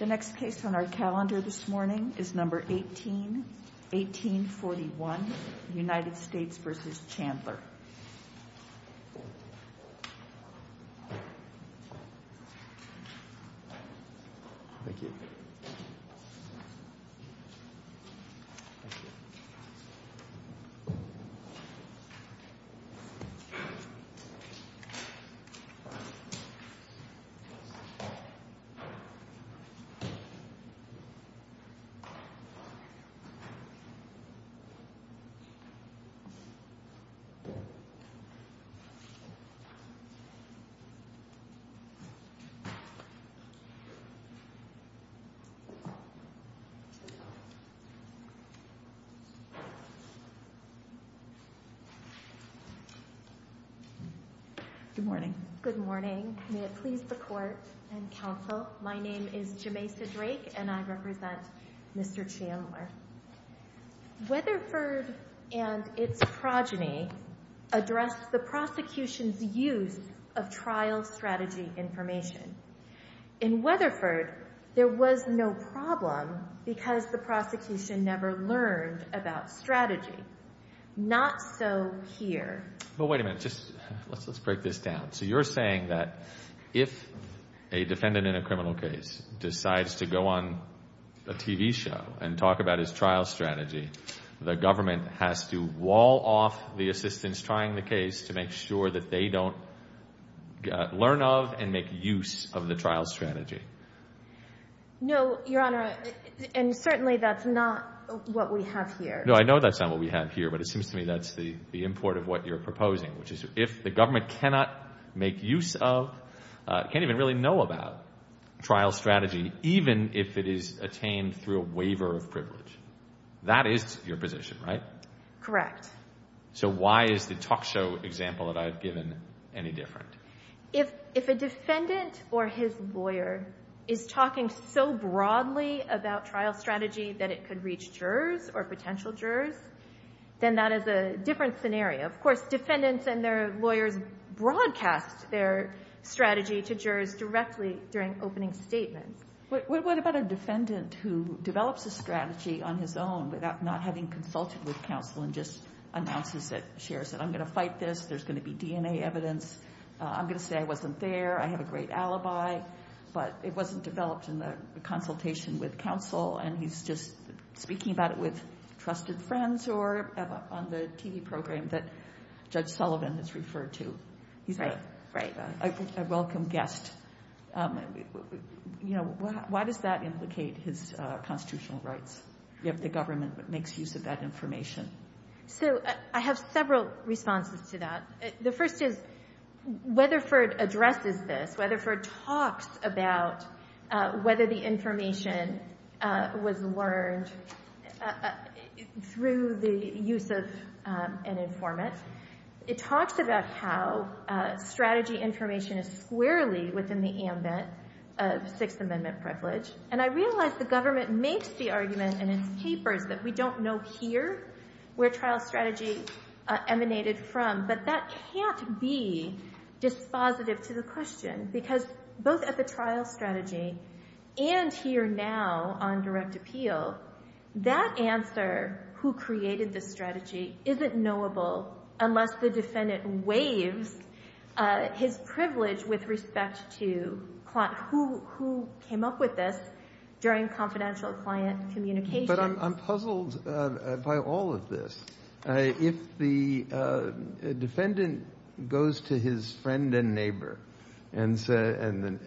The next case on our calendar this morning is number 18, 1841 United States v. Chandler Good morning. Good morning. May it please the Court and Counsel, my name is Jameisa Drake and I represent Mr. Chandler. Weatherford and its progeny addressed the prosecution's use of trial strategy information. In Weatherford, there was no problem because the prosecution never learned about strategy. Not so here. But wait a minute, let's break this down. So you're saying that if a defendant in a criminal case decides to go on a TV show and talk about his trial strategy, the government has to wall off the assistance trying the case to make sure that they don't learn of and make use of the trial strategy? No, Your Honor, and certainly that's not what we have here. No, I know that's not what we have here, but it seems to me that's the import of what you're proposing, which is if the government cannot make use of, can't even really know about trial strategy, even if it is attained through a waiver of privilege. That is your position, right? Correct. So why is the talk show example that I've given any different? If a defendant or his lawyer is talking so broadly about trial strategy that it could reach jurors or potential jurors, then that is a different scenario. Of course, defendants and their lawyers broadcast their strategy to jurors directly during opening statements. What about a defendant who develops a strategy on his own without not having consulted with counsel and just announces it, shares it? I'm going to fight this. There's going to be DNA evidence. I'm going to say I wasn't there. I have a great alibi. But it wasn't developed in the consultation with counsel, and he's just speaking about it with trusted friends or on the TV program that Judge Sullivan has referred to. He's a welcome guest. Why does that implicate his constitutional rights, if the government makes use of that information? So I have several responses to that. The first is Weatherford addresses this. Weatherford talks about whether the information was learned through the use of an informant. It talks about how strategy information is squarely within the ambit of Sixth Amendment privilege, and I realize the government makes the argument in its papers that we don't know here where trial strategy emanated from, but that can't be dispositive to the question because both at the trial strategy and here now on direct appeal, that answer, who created the strategy, isn't knowable unless the defendant waives his privilege with respect to who came up with this, during confidential client communication. But I'm puzzled by all of this. If the defendant goes to his friend and neighbor and the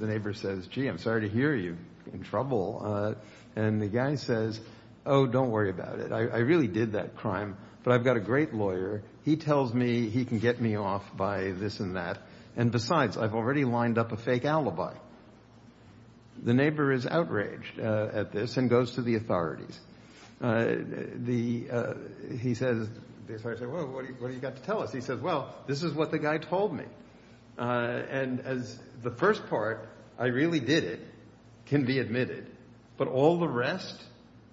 neighbor says, gee, I'm sorry to hear you in trouble, and the guy says, oh, don't worry about it. I really did that crime, but I've got a great lawyer. He tells me he can get me off by this and that, and besides, I've already lined up a fake alibi. The neighbor is outraged at this and goes to the authorities. The authorities say, well, what have you got to tell us? He says, well, this is what the guy told me, and the first part, I really did it, can be admitted, but all the rest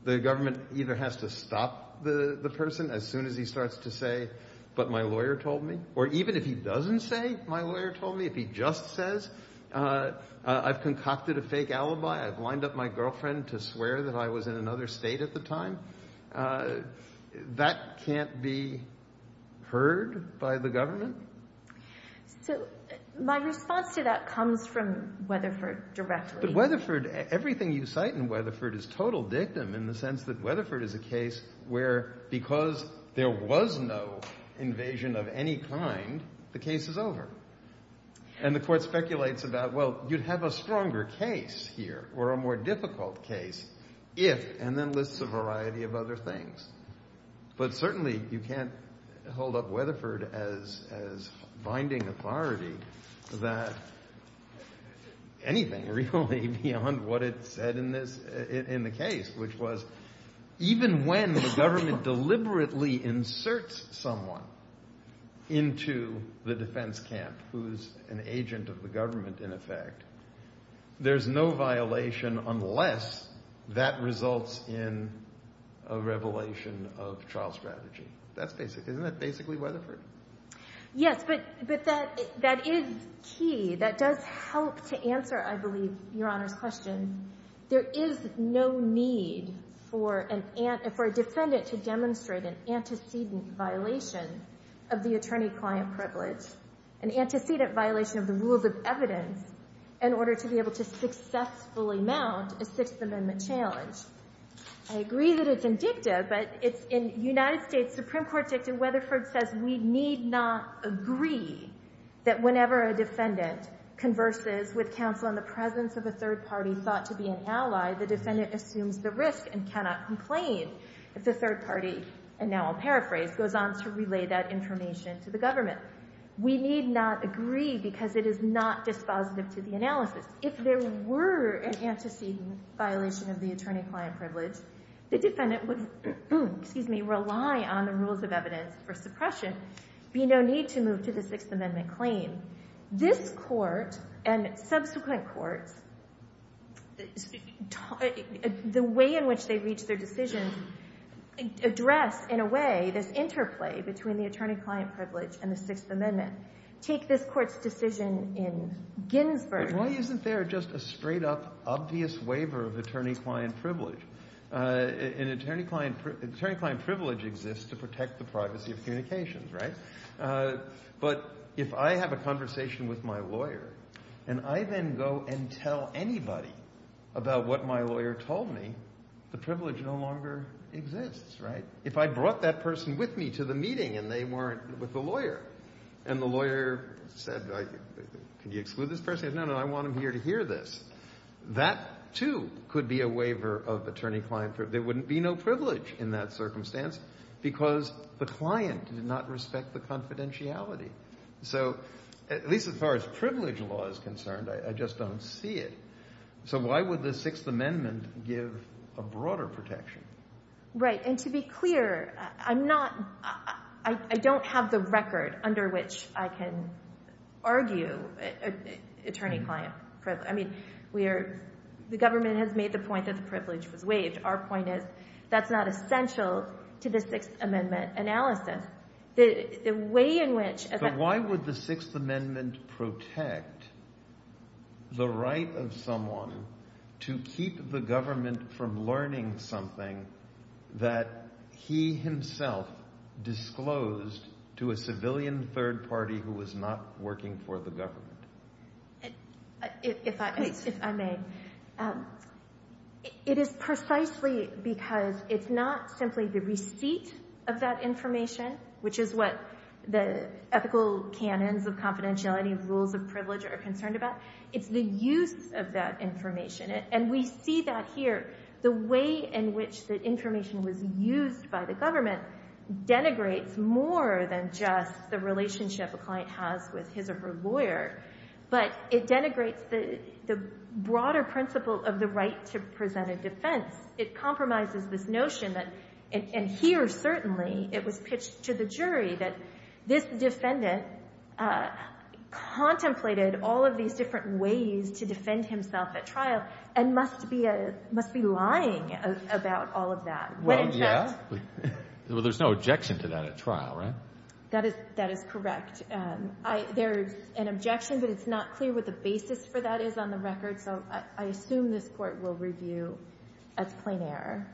the government either has to stop the person as soon as he starts to say, but my lawyer told me, or even if he doesn't say, my lawyer told me, if he just says, I've concocted a fake alibi, I've lined up my girlfriend to swear that I was in another state at the time, that can't be heard by the government? So my response to that comes from Weatherford directly. But Weatherford, everything you cite in Weatherford is total dictum in the sense that Weatherford is a case where, because there was no invasion of any kind, the case is over. And the court speculates about, well, you'd have a stronger case here or a more difficult case if, and then lists a variety of other things. But certainly you can't hold up Weatherford as binding authority that anything really beyond what it said in the case, which was even when the government deliberately inserts someone into the defense camp who's an agent of the government, in effect, there's no violation unless that results in a revelation of trial strategy. That's basic. Isn't that basically Weatherford? Yes, but that is key. That does help to answer, I believe, Your Honor's question. There is no need for a defendant to demonstrate an antecedent violation of the attorney-client privilege, an antecedent violation of the rules of evidence, in order to be able to successfully mount a Sixth Amendment challenge. I agree that it's in dicta, but it's in United States Supreme Court dicta. We need not agree that whenever a defendant converses with counsel in the presence of a third party thought to be an ally, the defendant assumes the risk and cannot complain if the third party, and now I'll paraphrase, goes on to relay that information to the government. We need not agree because it is not dispositive to the analysis. If there were an antecedent violation of the attorney-client privilege, the defendant would rely on the rules of evidence for suppression, be no need to move to the Sixth Amendment claim. This Court and subsequent courts, the way in which they reach their decisions, address, in a way, this interplay between the attorney-client privilege and the Sixth Amendment. Take this Court's decision in Ginsburg. Why isn't there just a straight-up obvious waiver of attorney-client privilege? An attorney-client privilege exists to protect the privacy of communications, right? But if I have a conversation with my lawyer and I then go and tell anybody about what my lawyer told me, the privilege no longer exists, right? If I brought that person with me to the meeting and they weren't with the lawyer and the lawyer said, can you exclude this person? No, no, I want them here to hear this. That, too, could be a waiver of attorney-client privilege. There wouldn't be no privilege in that circumstance because the client did not respect the confidentiality. So at least as far as privilege law is concerned, I just don't see it. So why would the Sixth Amendment give a broader protection? Right, and to be clear, I'm not – I don't have the record under which I can argue attorney-client privilege. I mean we are – the government has made the point that the privilege was waived. Our point is that's not essential to the Sixth Amendment analysis. The way in which – And why would the Sixth Amendment protect the right of someone to keep the government from learning something that he himself disclosed to a civilian third party who was not working for the government? If I may. It is precisely because it's not simply the receipt of that information, which is what the ethical canons of confidentiality and rules of privilege are concerned about. It's the use of that information. And we see that here. The way in which the information was used by the government denigrates more than just the relationship a client has with his or her lawyer. But it denigrates the broader principle of the right to present a defense. It compromises this notion that – and here certainly it was pitched to the jury that this defendant contemplated all of these different ways to defend himself at trial and must be lying about all of that. Well, yeah. Well, there's no objection to that at trial, right? That is correct. There is an objection, but it's not clear what the basis for that is on the record, so I assume this Court will review as plain error.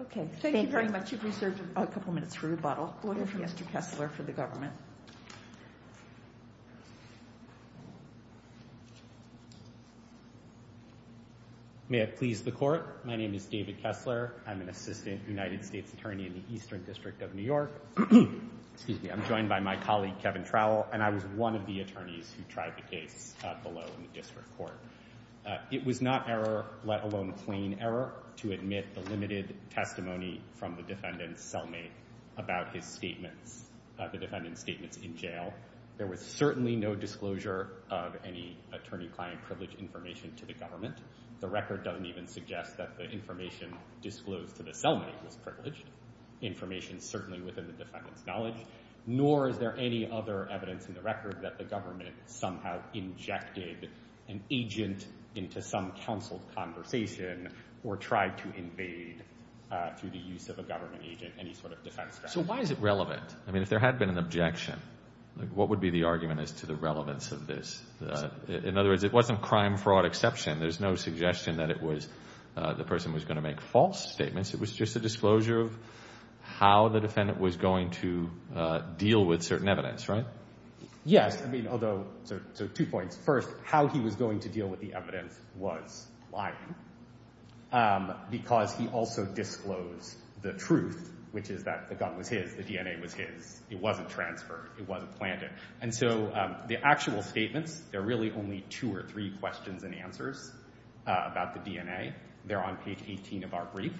Okay. Thank you very much. You've reserved a couple minutes for rebuttal. Order for Mr. Kessler for the government. May it please the Court. My name is David Kessler. I'm an assistant United States attorney in the Eastern District of New York. I'm joined by my colleague, Kevin Trowell, and I was one of the attorneys who tried the case below in the District Court. It was not error, let alone plain error, to admit the limited testimony from the defendant's cellmate about his statements, the defendant's statements in jail. There was certainly no disclosure of any attorney-client privileged information to the government. The record doesn't even suggest that the information disclosed to the cellmate was privileged. Information is certainly within the defendant's knowledge, nor is there any other evidence in the record that the government somehow injected an agent into some counseled conversation or tried to invade, through the use of a government agent, any sort of defense strategy. So why is it relevant? I mean, if there had been an objection, what would be the argument as to the relevance of this? In other words, it wasn't a crime-fraud exception. There's no suggestion that it was the person who was going to make false statements. It was just a disclosure of how the defendant was going to deal with certain evidence, right? Yes. I mean, although, so two points. First, how he was going to deal with the evidence was lying because he also disclosed the truth, which is that the gun was his, the DNA was his. It wasn't transferred. It wasn't planted. And so the actual statements, there are really only two or three questions and answers about the DNA. They're on page 18 of our brief.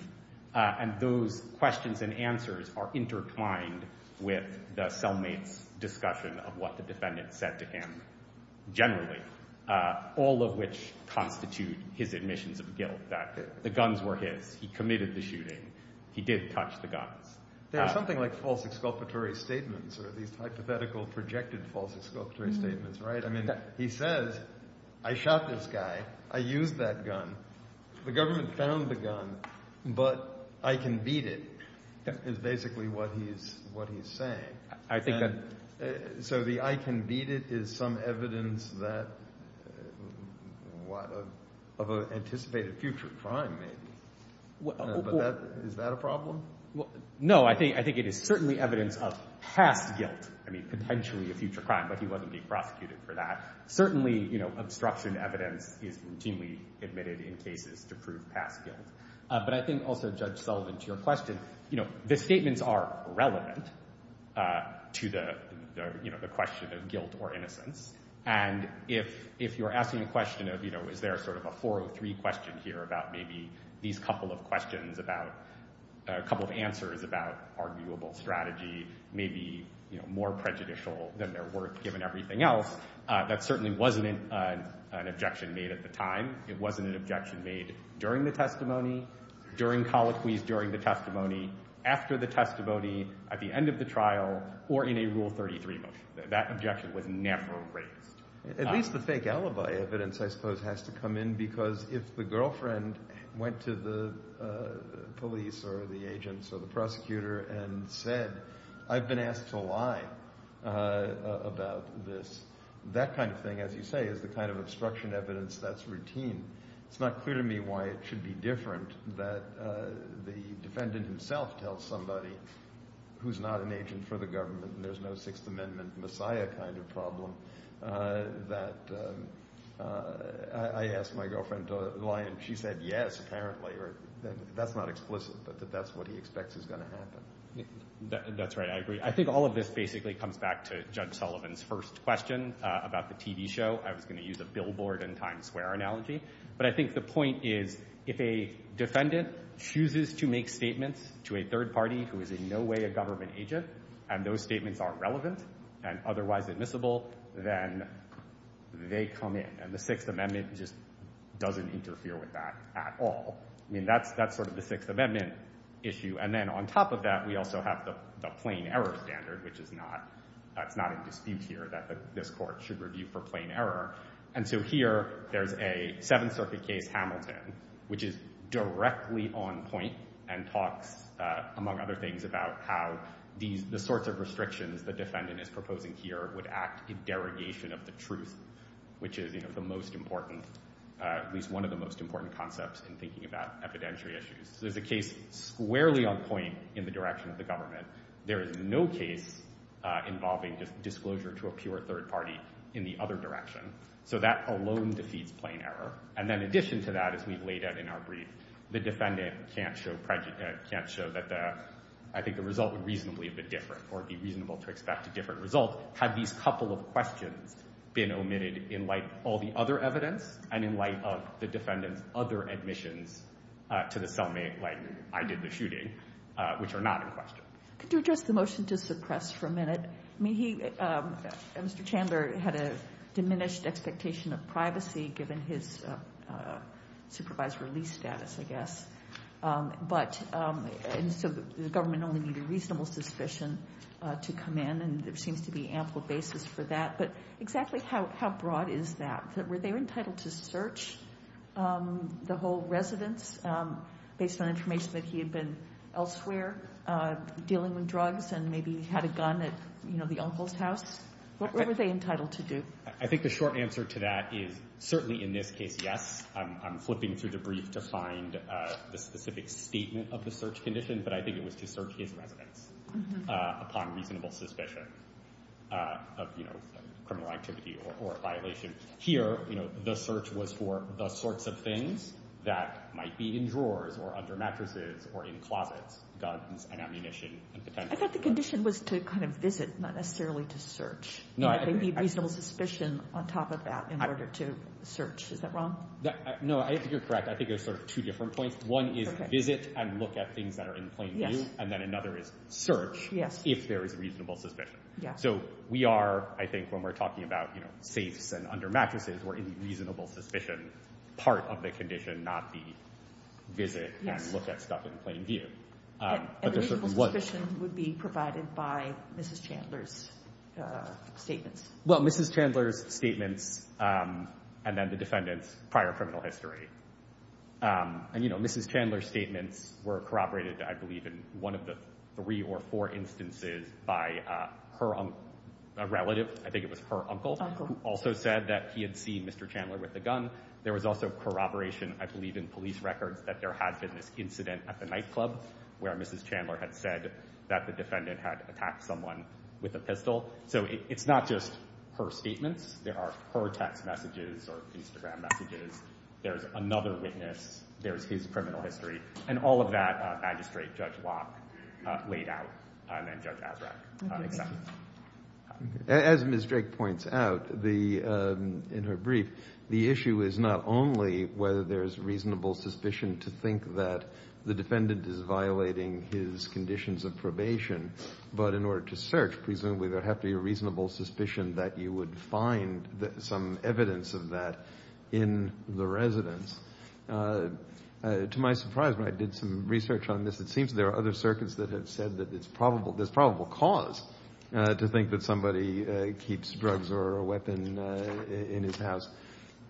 And those questions and answers are intertwined with the cellmate's discussion of what the defendant said to him generally, all of which constitute his admissions of guilt that the guns were his, he committed the shooting, he did touch the guns. There's something like false exculpatory statements or these hypothetical projected false exculpatory statements, right? I mean, he says, I shot this guy. I used that gun. The government found the gun, but I can beat it, is basically what he's saying. So the I can beat it is some evidence that, what, of an anticipated future crime maybe. Is that a problem? No. I think it is certainly evidence of past guilt. I mean, potentially a future crime, but he wasn't being prosecuted for that. Certainly, obstruction evidence is routinely admitted in cases to prove past guilt. But I think also, Judge Sullivan, to your question, the statements are relevant to the question of guilt or innocence. And if you're asking a question of, you know, is there sort of a 403 question here about maybe these couple of questions about, a couple of answers about arguable strategy, maybe more prejudicial than they're worth given everything else, that certainly wasn't an objection made at the time. It wasn't an objection made during the testimony, during colloquies, during the testimony, after the testimony, at the end of the trial, or in a Rule 33 motion. That objection was never raised. At least the fake alibi evidence, I suppose, has to come in, because if the girlfriend went to the police or the agents or the prosecutor and said, I've been asked to lie about this, that kind of thing, as you say, is the kind of obstruction evidence that's routine. It's not clear to me why it should be different that the defendant himself tells somebody who's not an agent for the government and there's no Sixth Amendment messiah kind of problem that I asked my girlfriend to lie and she said yes, apparently. That's not explicit, but that's what he expects is going to happen. That's right. I agree. I think all of this basically comes back to Judge Sullivan's first question about the TV show. I was going to use a billboard and Times Square analogy. But I think the point is if a defendant chooses to make statements to a third party who is in no way a government agent and those statements are relevant and otherwise admissible, then they come in. And the Sixth Amendment just doesn't interfere with that at all. I mean, that's sort of the Sixth Amendment issue. And then on top of that, we also have the plain error standard, which is not in dispute here that this court should review for plain error. And so here there's a Seventh Circuit case, Hamilton, which is directly on point and talks, among other things, about how the sorts of restrictions the defendant is proposing here would act in derogation of the truth, which is the most important, at least one of the most important concepts in thinking about evidentiary issues. So there's a case squarely on point in the direction of the government. There is no case involving disclosure to a pure third party in the other direction. So that alone defeats plain error. And then in addition to that, as we've laid out in our brief, the defendant can't show prejudice, can't show that I think the result would reasonably be different or be reasonable to expect a different result. Had these couple of questions been omitted in light of all the other evidence and in light of the defendant's other admissions to the cellmate, like I did the shooting, which are not in question. Could you address the motion to suppress for a minute? I mean, Mr. Chandler had a diminished expectation of privacy given his supervised release status, I guess. But the government only needed reasonable suspicion to come in, and there seems to be ample basis for that. But exactly how broad is that? Were they entitled to search the whole residence based on information that he had been elsewhere dealing with drugs and maybe had a gun at the uncle's house? What were they entitled to do? I think the short answer to that is certainly in this case, yes. I'm flipping through the brief to find the specific statement of the search condition, but I think it was to search his residence upon reasonable suspicion of criminal activity or violation. Here, the search was for the sorts of things that might be in drawers or under mattresses or in closets, guns and ammunition. I thought the condition was to kind of visit, not necessarily to search. They need reasonable suspicion on top of that in order to search. Is that wrong? No, I think you're correct. I think there's sort of two different points. One is visit and look at things that are in plain view, and then another is search if there is reasonable suspicion. So we are, I think when we're talking about safes and under mattresses, we're in the reasonable suspicion part of the condition, not the visit and look at stuff in plain view. And reasonable suspicion would be provided by Mrs. Chandler's statements. Well, Mrs. Chandler's statements and then the defendant's prior criminal history. And, you know, Mrs. Chandler's statements were corroborated, I believe, in one of the three or four instances by her relative. I think it was her uncle who also said that he had seen Mr. Chandler with a gun. There was also corroboration, I believe, in police records that there had been this incident at the nightclub where Mrs. Chandler had said that the defendant had attacked someone with a pistol. So it's not just her statements. There are her text messages or Instagram messages. There is another witness. There is his criminal history. And all of that, Magistrate Judge Locke laid out, and then Judge Azraq accepted. As Ms. Drake points out in her brief, the issue is not only whether there is reasonable suspicion to think that the defendant is violating his conditions of probation, but in order to search, To my surprise, when I did some research on this, it seems there are other circuits that have said that there's probable cause to think that somebody keeps drugs or a weapon in his house.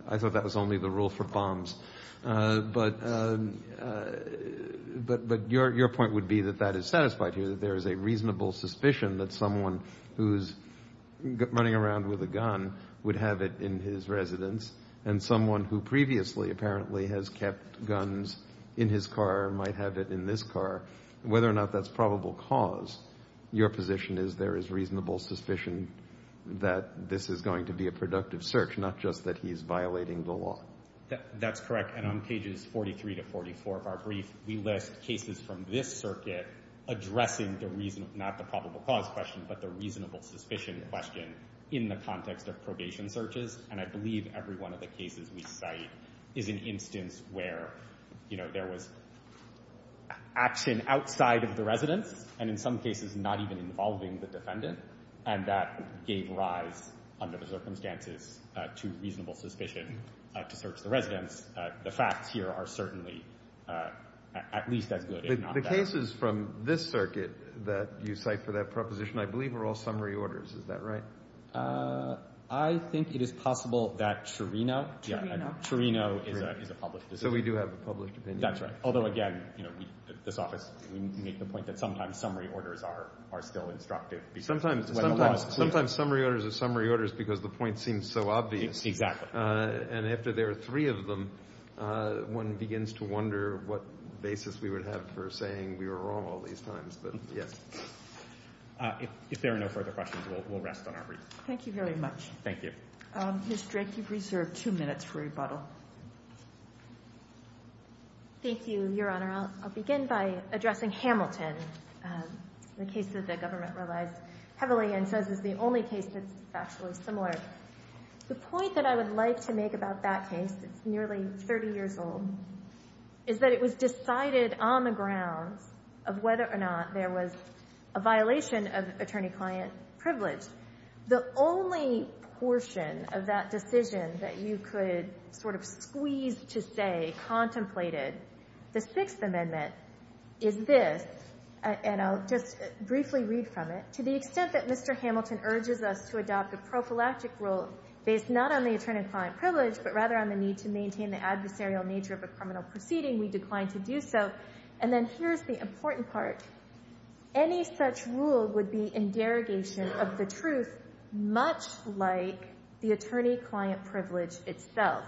I thought that was only the rule for bombs. But your point would be that that is satisfied here, that there is a reasonable suspicion that someone who's running around with a gun would have it in his residence and someone who previously apparently has kept guns in his car might have it in this car. Whether or not that's probable cause, your position is there is reasonable suspicion that this is going to be a productive search, not just that he's violating the law. That's correct, and on pages 43 to 44 of our brief, we list cases from this circuit addressing not the probable cause question, but the reasonable suspicion question in the context of probation searches. And I believe every one of the cases we cite is an instance where there was action outside of the residence, and in some cases not even involving the defendant, and that gave rise under the circumstances to reasonable suspicion to search the residence. The facts here are certainly at least as good if not better. The cases from this circuit that you cite for that proposition, I believe, are all summary orders. Is that right? I think it is possible that Trurino is a public decision. So we do have a public opinion. That's right, although again, this office, we make the point that sometimes summary orders are still instructive. Sometimes summary orders are summary orders because the point seems so obvious. Exactly. And after there are three of them, one begins to wonder what basis we would have for saying we were wrong all these times, but yes. If there are no further questions, we'll rest on our brief. Thank you very much. Thank you. Ms. Drake, you've reserved two minutes for rebuttal. Thank you, Your Honor. I'll begin by addressing Hamilton, the case that the government relies heavily and says is the only case that's factually similar. The point that I would like to make about that case, it's nearly 30 years old, is that it was decided on the grounds of whether or not there was a violation of attorney-client privilege. The only portion of that decision that you could sort of squeeze to say contemplated the Sixth Amendment is this, and I'll just briefly read from it. To the extent that Mr. Hamilton urges us to adopt a prophylactic rule based not on the attorney-client privilege but rather on the need to maintain the adversarial nature of a criminal proceeding, we decline to do so. And then here's the important part. Any such rule would be in derogation of the truth much like the attorney-client privilege itself.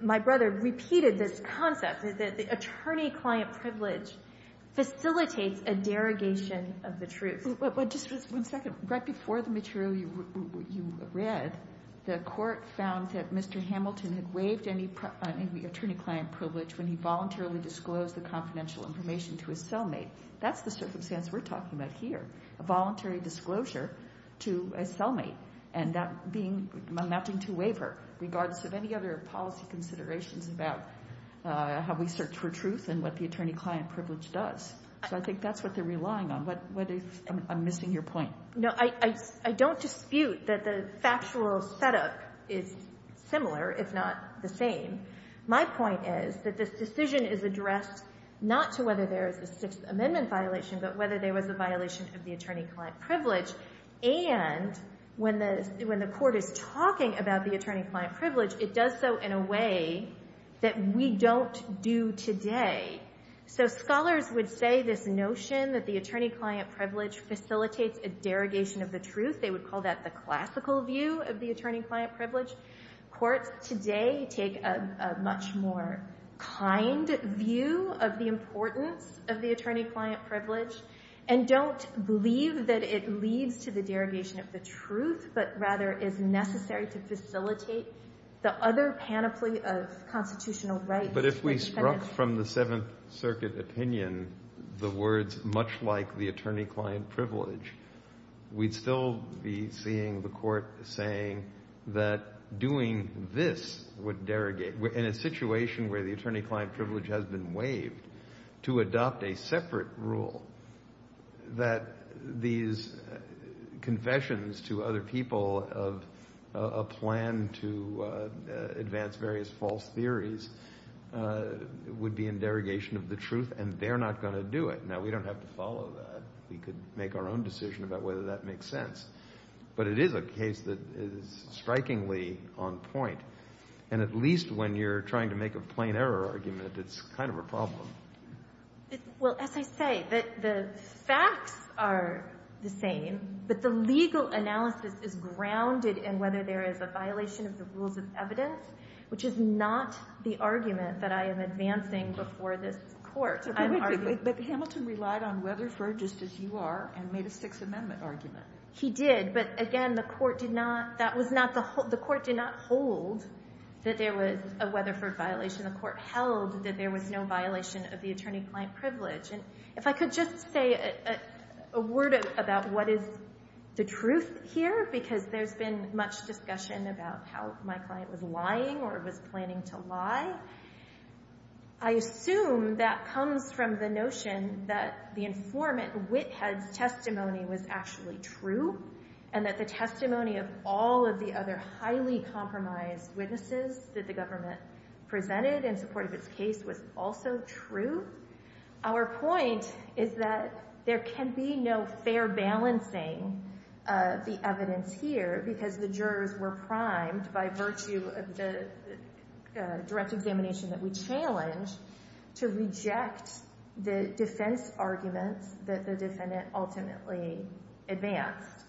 My brother repeated this concept, that the attorney-client privilege facilitates a derogation of the truth. Just one second. Right before the material you read, the Court found that Mr. Hamilton had waived any attorney-client privilege when he voluntarily disclosed the confidential information to his cellmate. That's the circumstance we're talking about here, a voluntary disclosure to a cellmate and that being a matching two waiver, regardless of any other policy considerations about how we search for truth and what the attorney-client privilege does. So I think that's what they're relying on. I'm missing your point. No, I don't dispute that the factual setup is similar, if not the same. My point is that this decision is addressed not to whether there is a Sixth Amendment violation but whether there was a violation of the attorney-client privilege. And when the Court is talking about the attorney-client privilege, it does so in a way that we don't do today. So scholars would say this notion that the attorney-client privilege facilitates a derogation of the truth, they would call that the classical view of the attorney-client privilege. Courts today take a much more kind view of the importance of the attorney-client privilege and don't believe that it leads to the derogation of the truth but rather is necessary to facilitate the other panoply of constitutional rights. But if we struck from the Seventh Circuit opinion the words, much like the attorney-client privilege, we'd still be seeing the Court saying that doing this would derogate, in a situation where the attorney-client privilege has been waived, to adopt a separate rule, that these confessions to other people of a plan to advance various false theories would be in derogation of the truth and they're not going to do it. Now, we don't have to follow that. We could make our own decision about whether that makes sense. But it is a case that is strikingly on point. And at least when you're trying to make a plain error argument, it's kind of a problem. Well, as I say, the facts are the same, but the legal analysis is grounded in whether there is a violation of the rules of evidence, which is not the argument that I am advancing before this Court. But Hamilton relied on Weatherford, just as you are, and made a Sixth Amendment argument. He did, but again, the Court did not hold that there was a Weatherford violation. The Court held that there was no violation of the attorney-client privilege. And if I could just say a word about what is the truth here, because there's been much discussion about how my client was lying or was planning to lie. I assume that comes from the notion that the informant, Whithead's, testimony was actually true, and that the testimony of all of the other highly compromised witnesses that the defendant presented in support of its case was also true. Our point is that there can be no fair balancing of the evidence here, because the jurors were primed by virtue of the direct examination that we challenged to reject the defense arguments that the defendant ultimately advanced.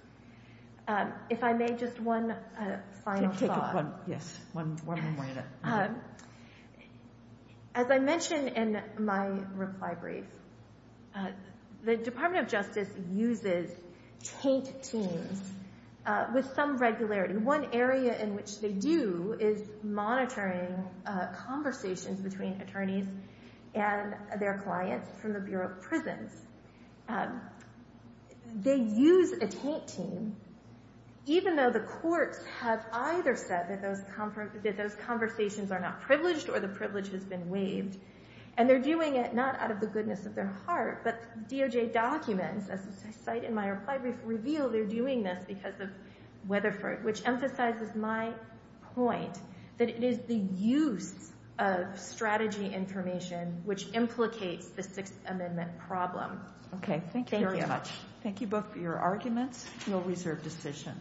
If I may, just one final thought. Yes, one more minute. As I mentioned in my reply brief, the Department of Justice uses taint teams with some regularity. One area in which they do is monitoring conversations between attorneys and their clients from the Bureau of Prisons. They use a taint team, even though the courts have either said that those conversations are not privileged or the privilege has been waived. And they're doing it not out of the goodness of their heart, but DOJ documents, as I cite in my reply brief, reveal they're doing this because of Weatherford, which emphasizes my point that it is the use of strategy information which implicates the Sixth Amendment problem. Thank you very much. Thank you both for your arguments. You'll reserve decision.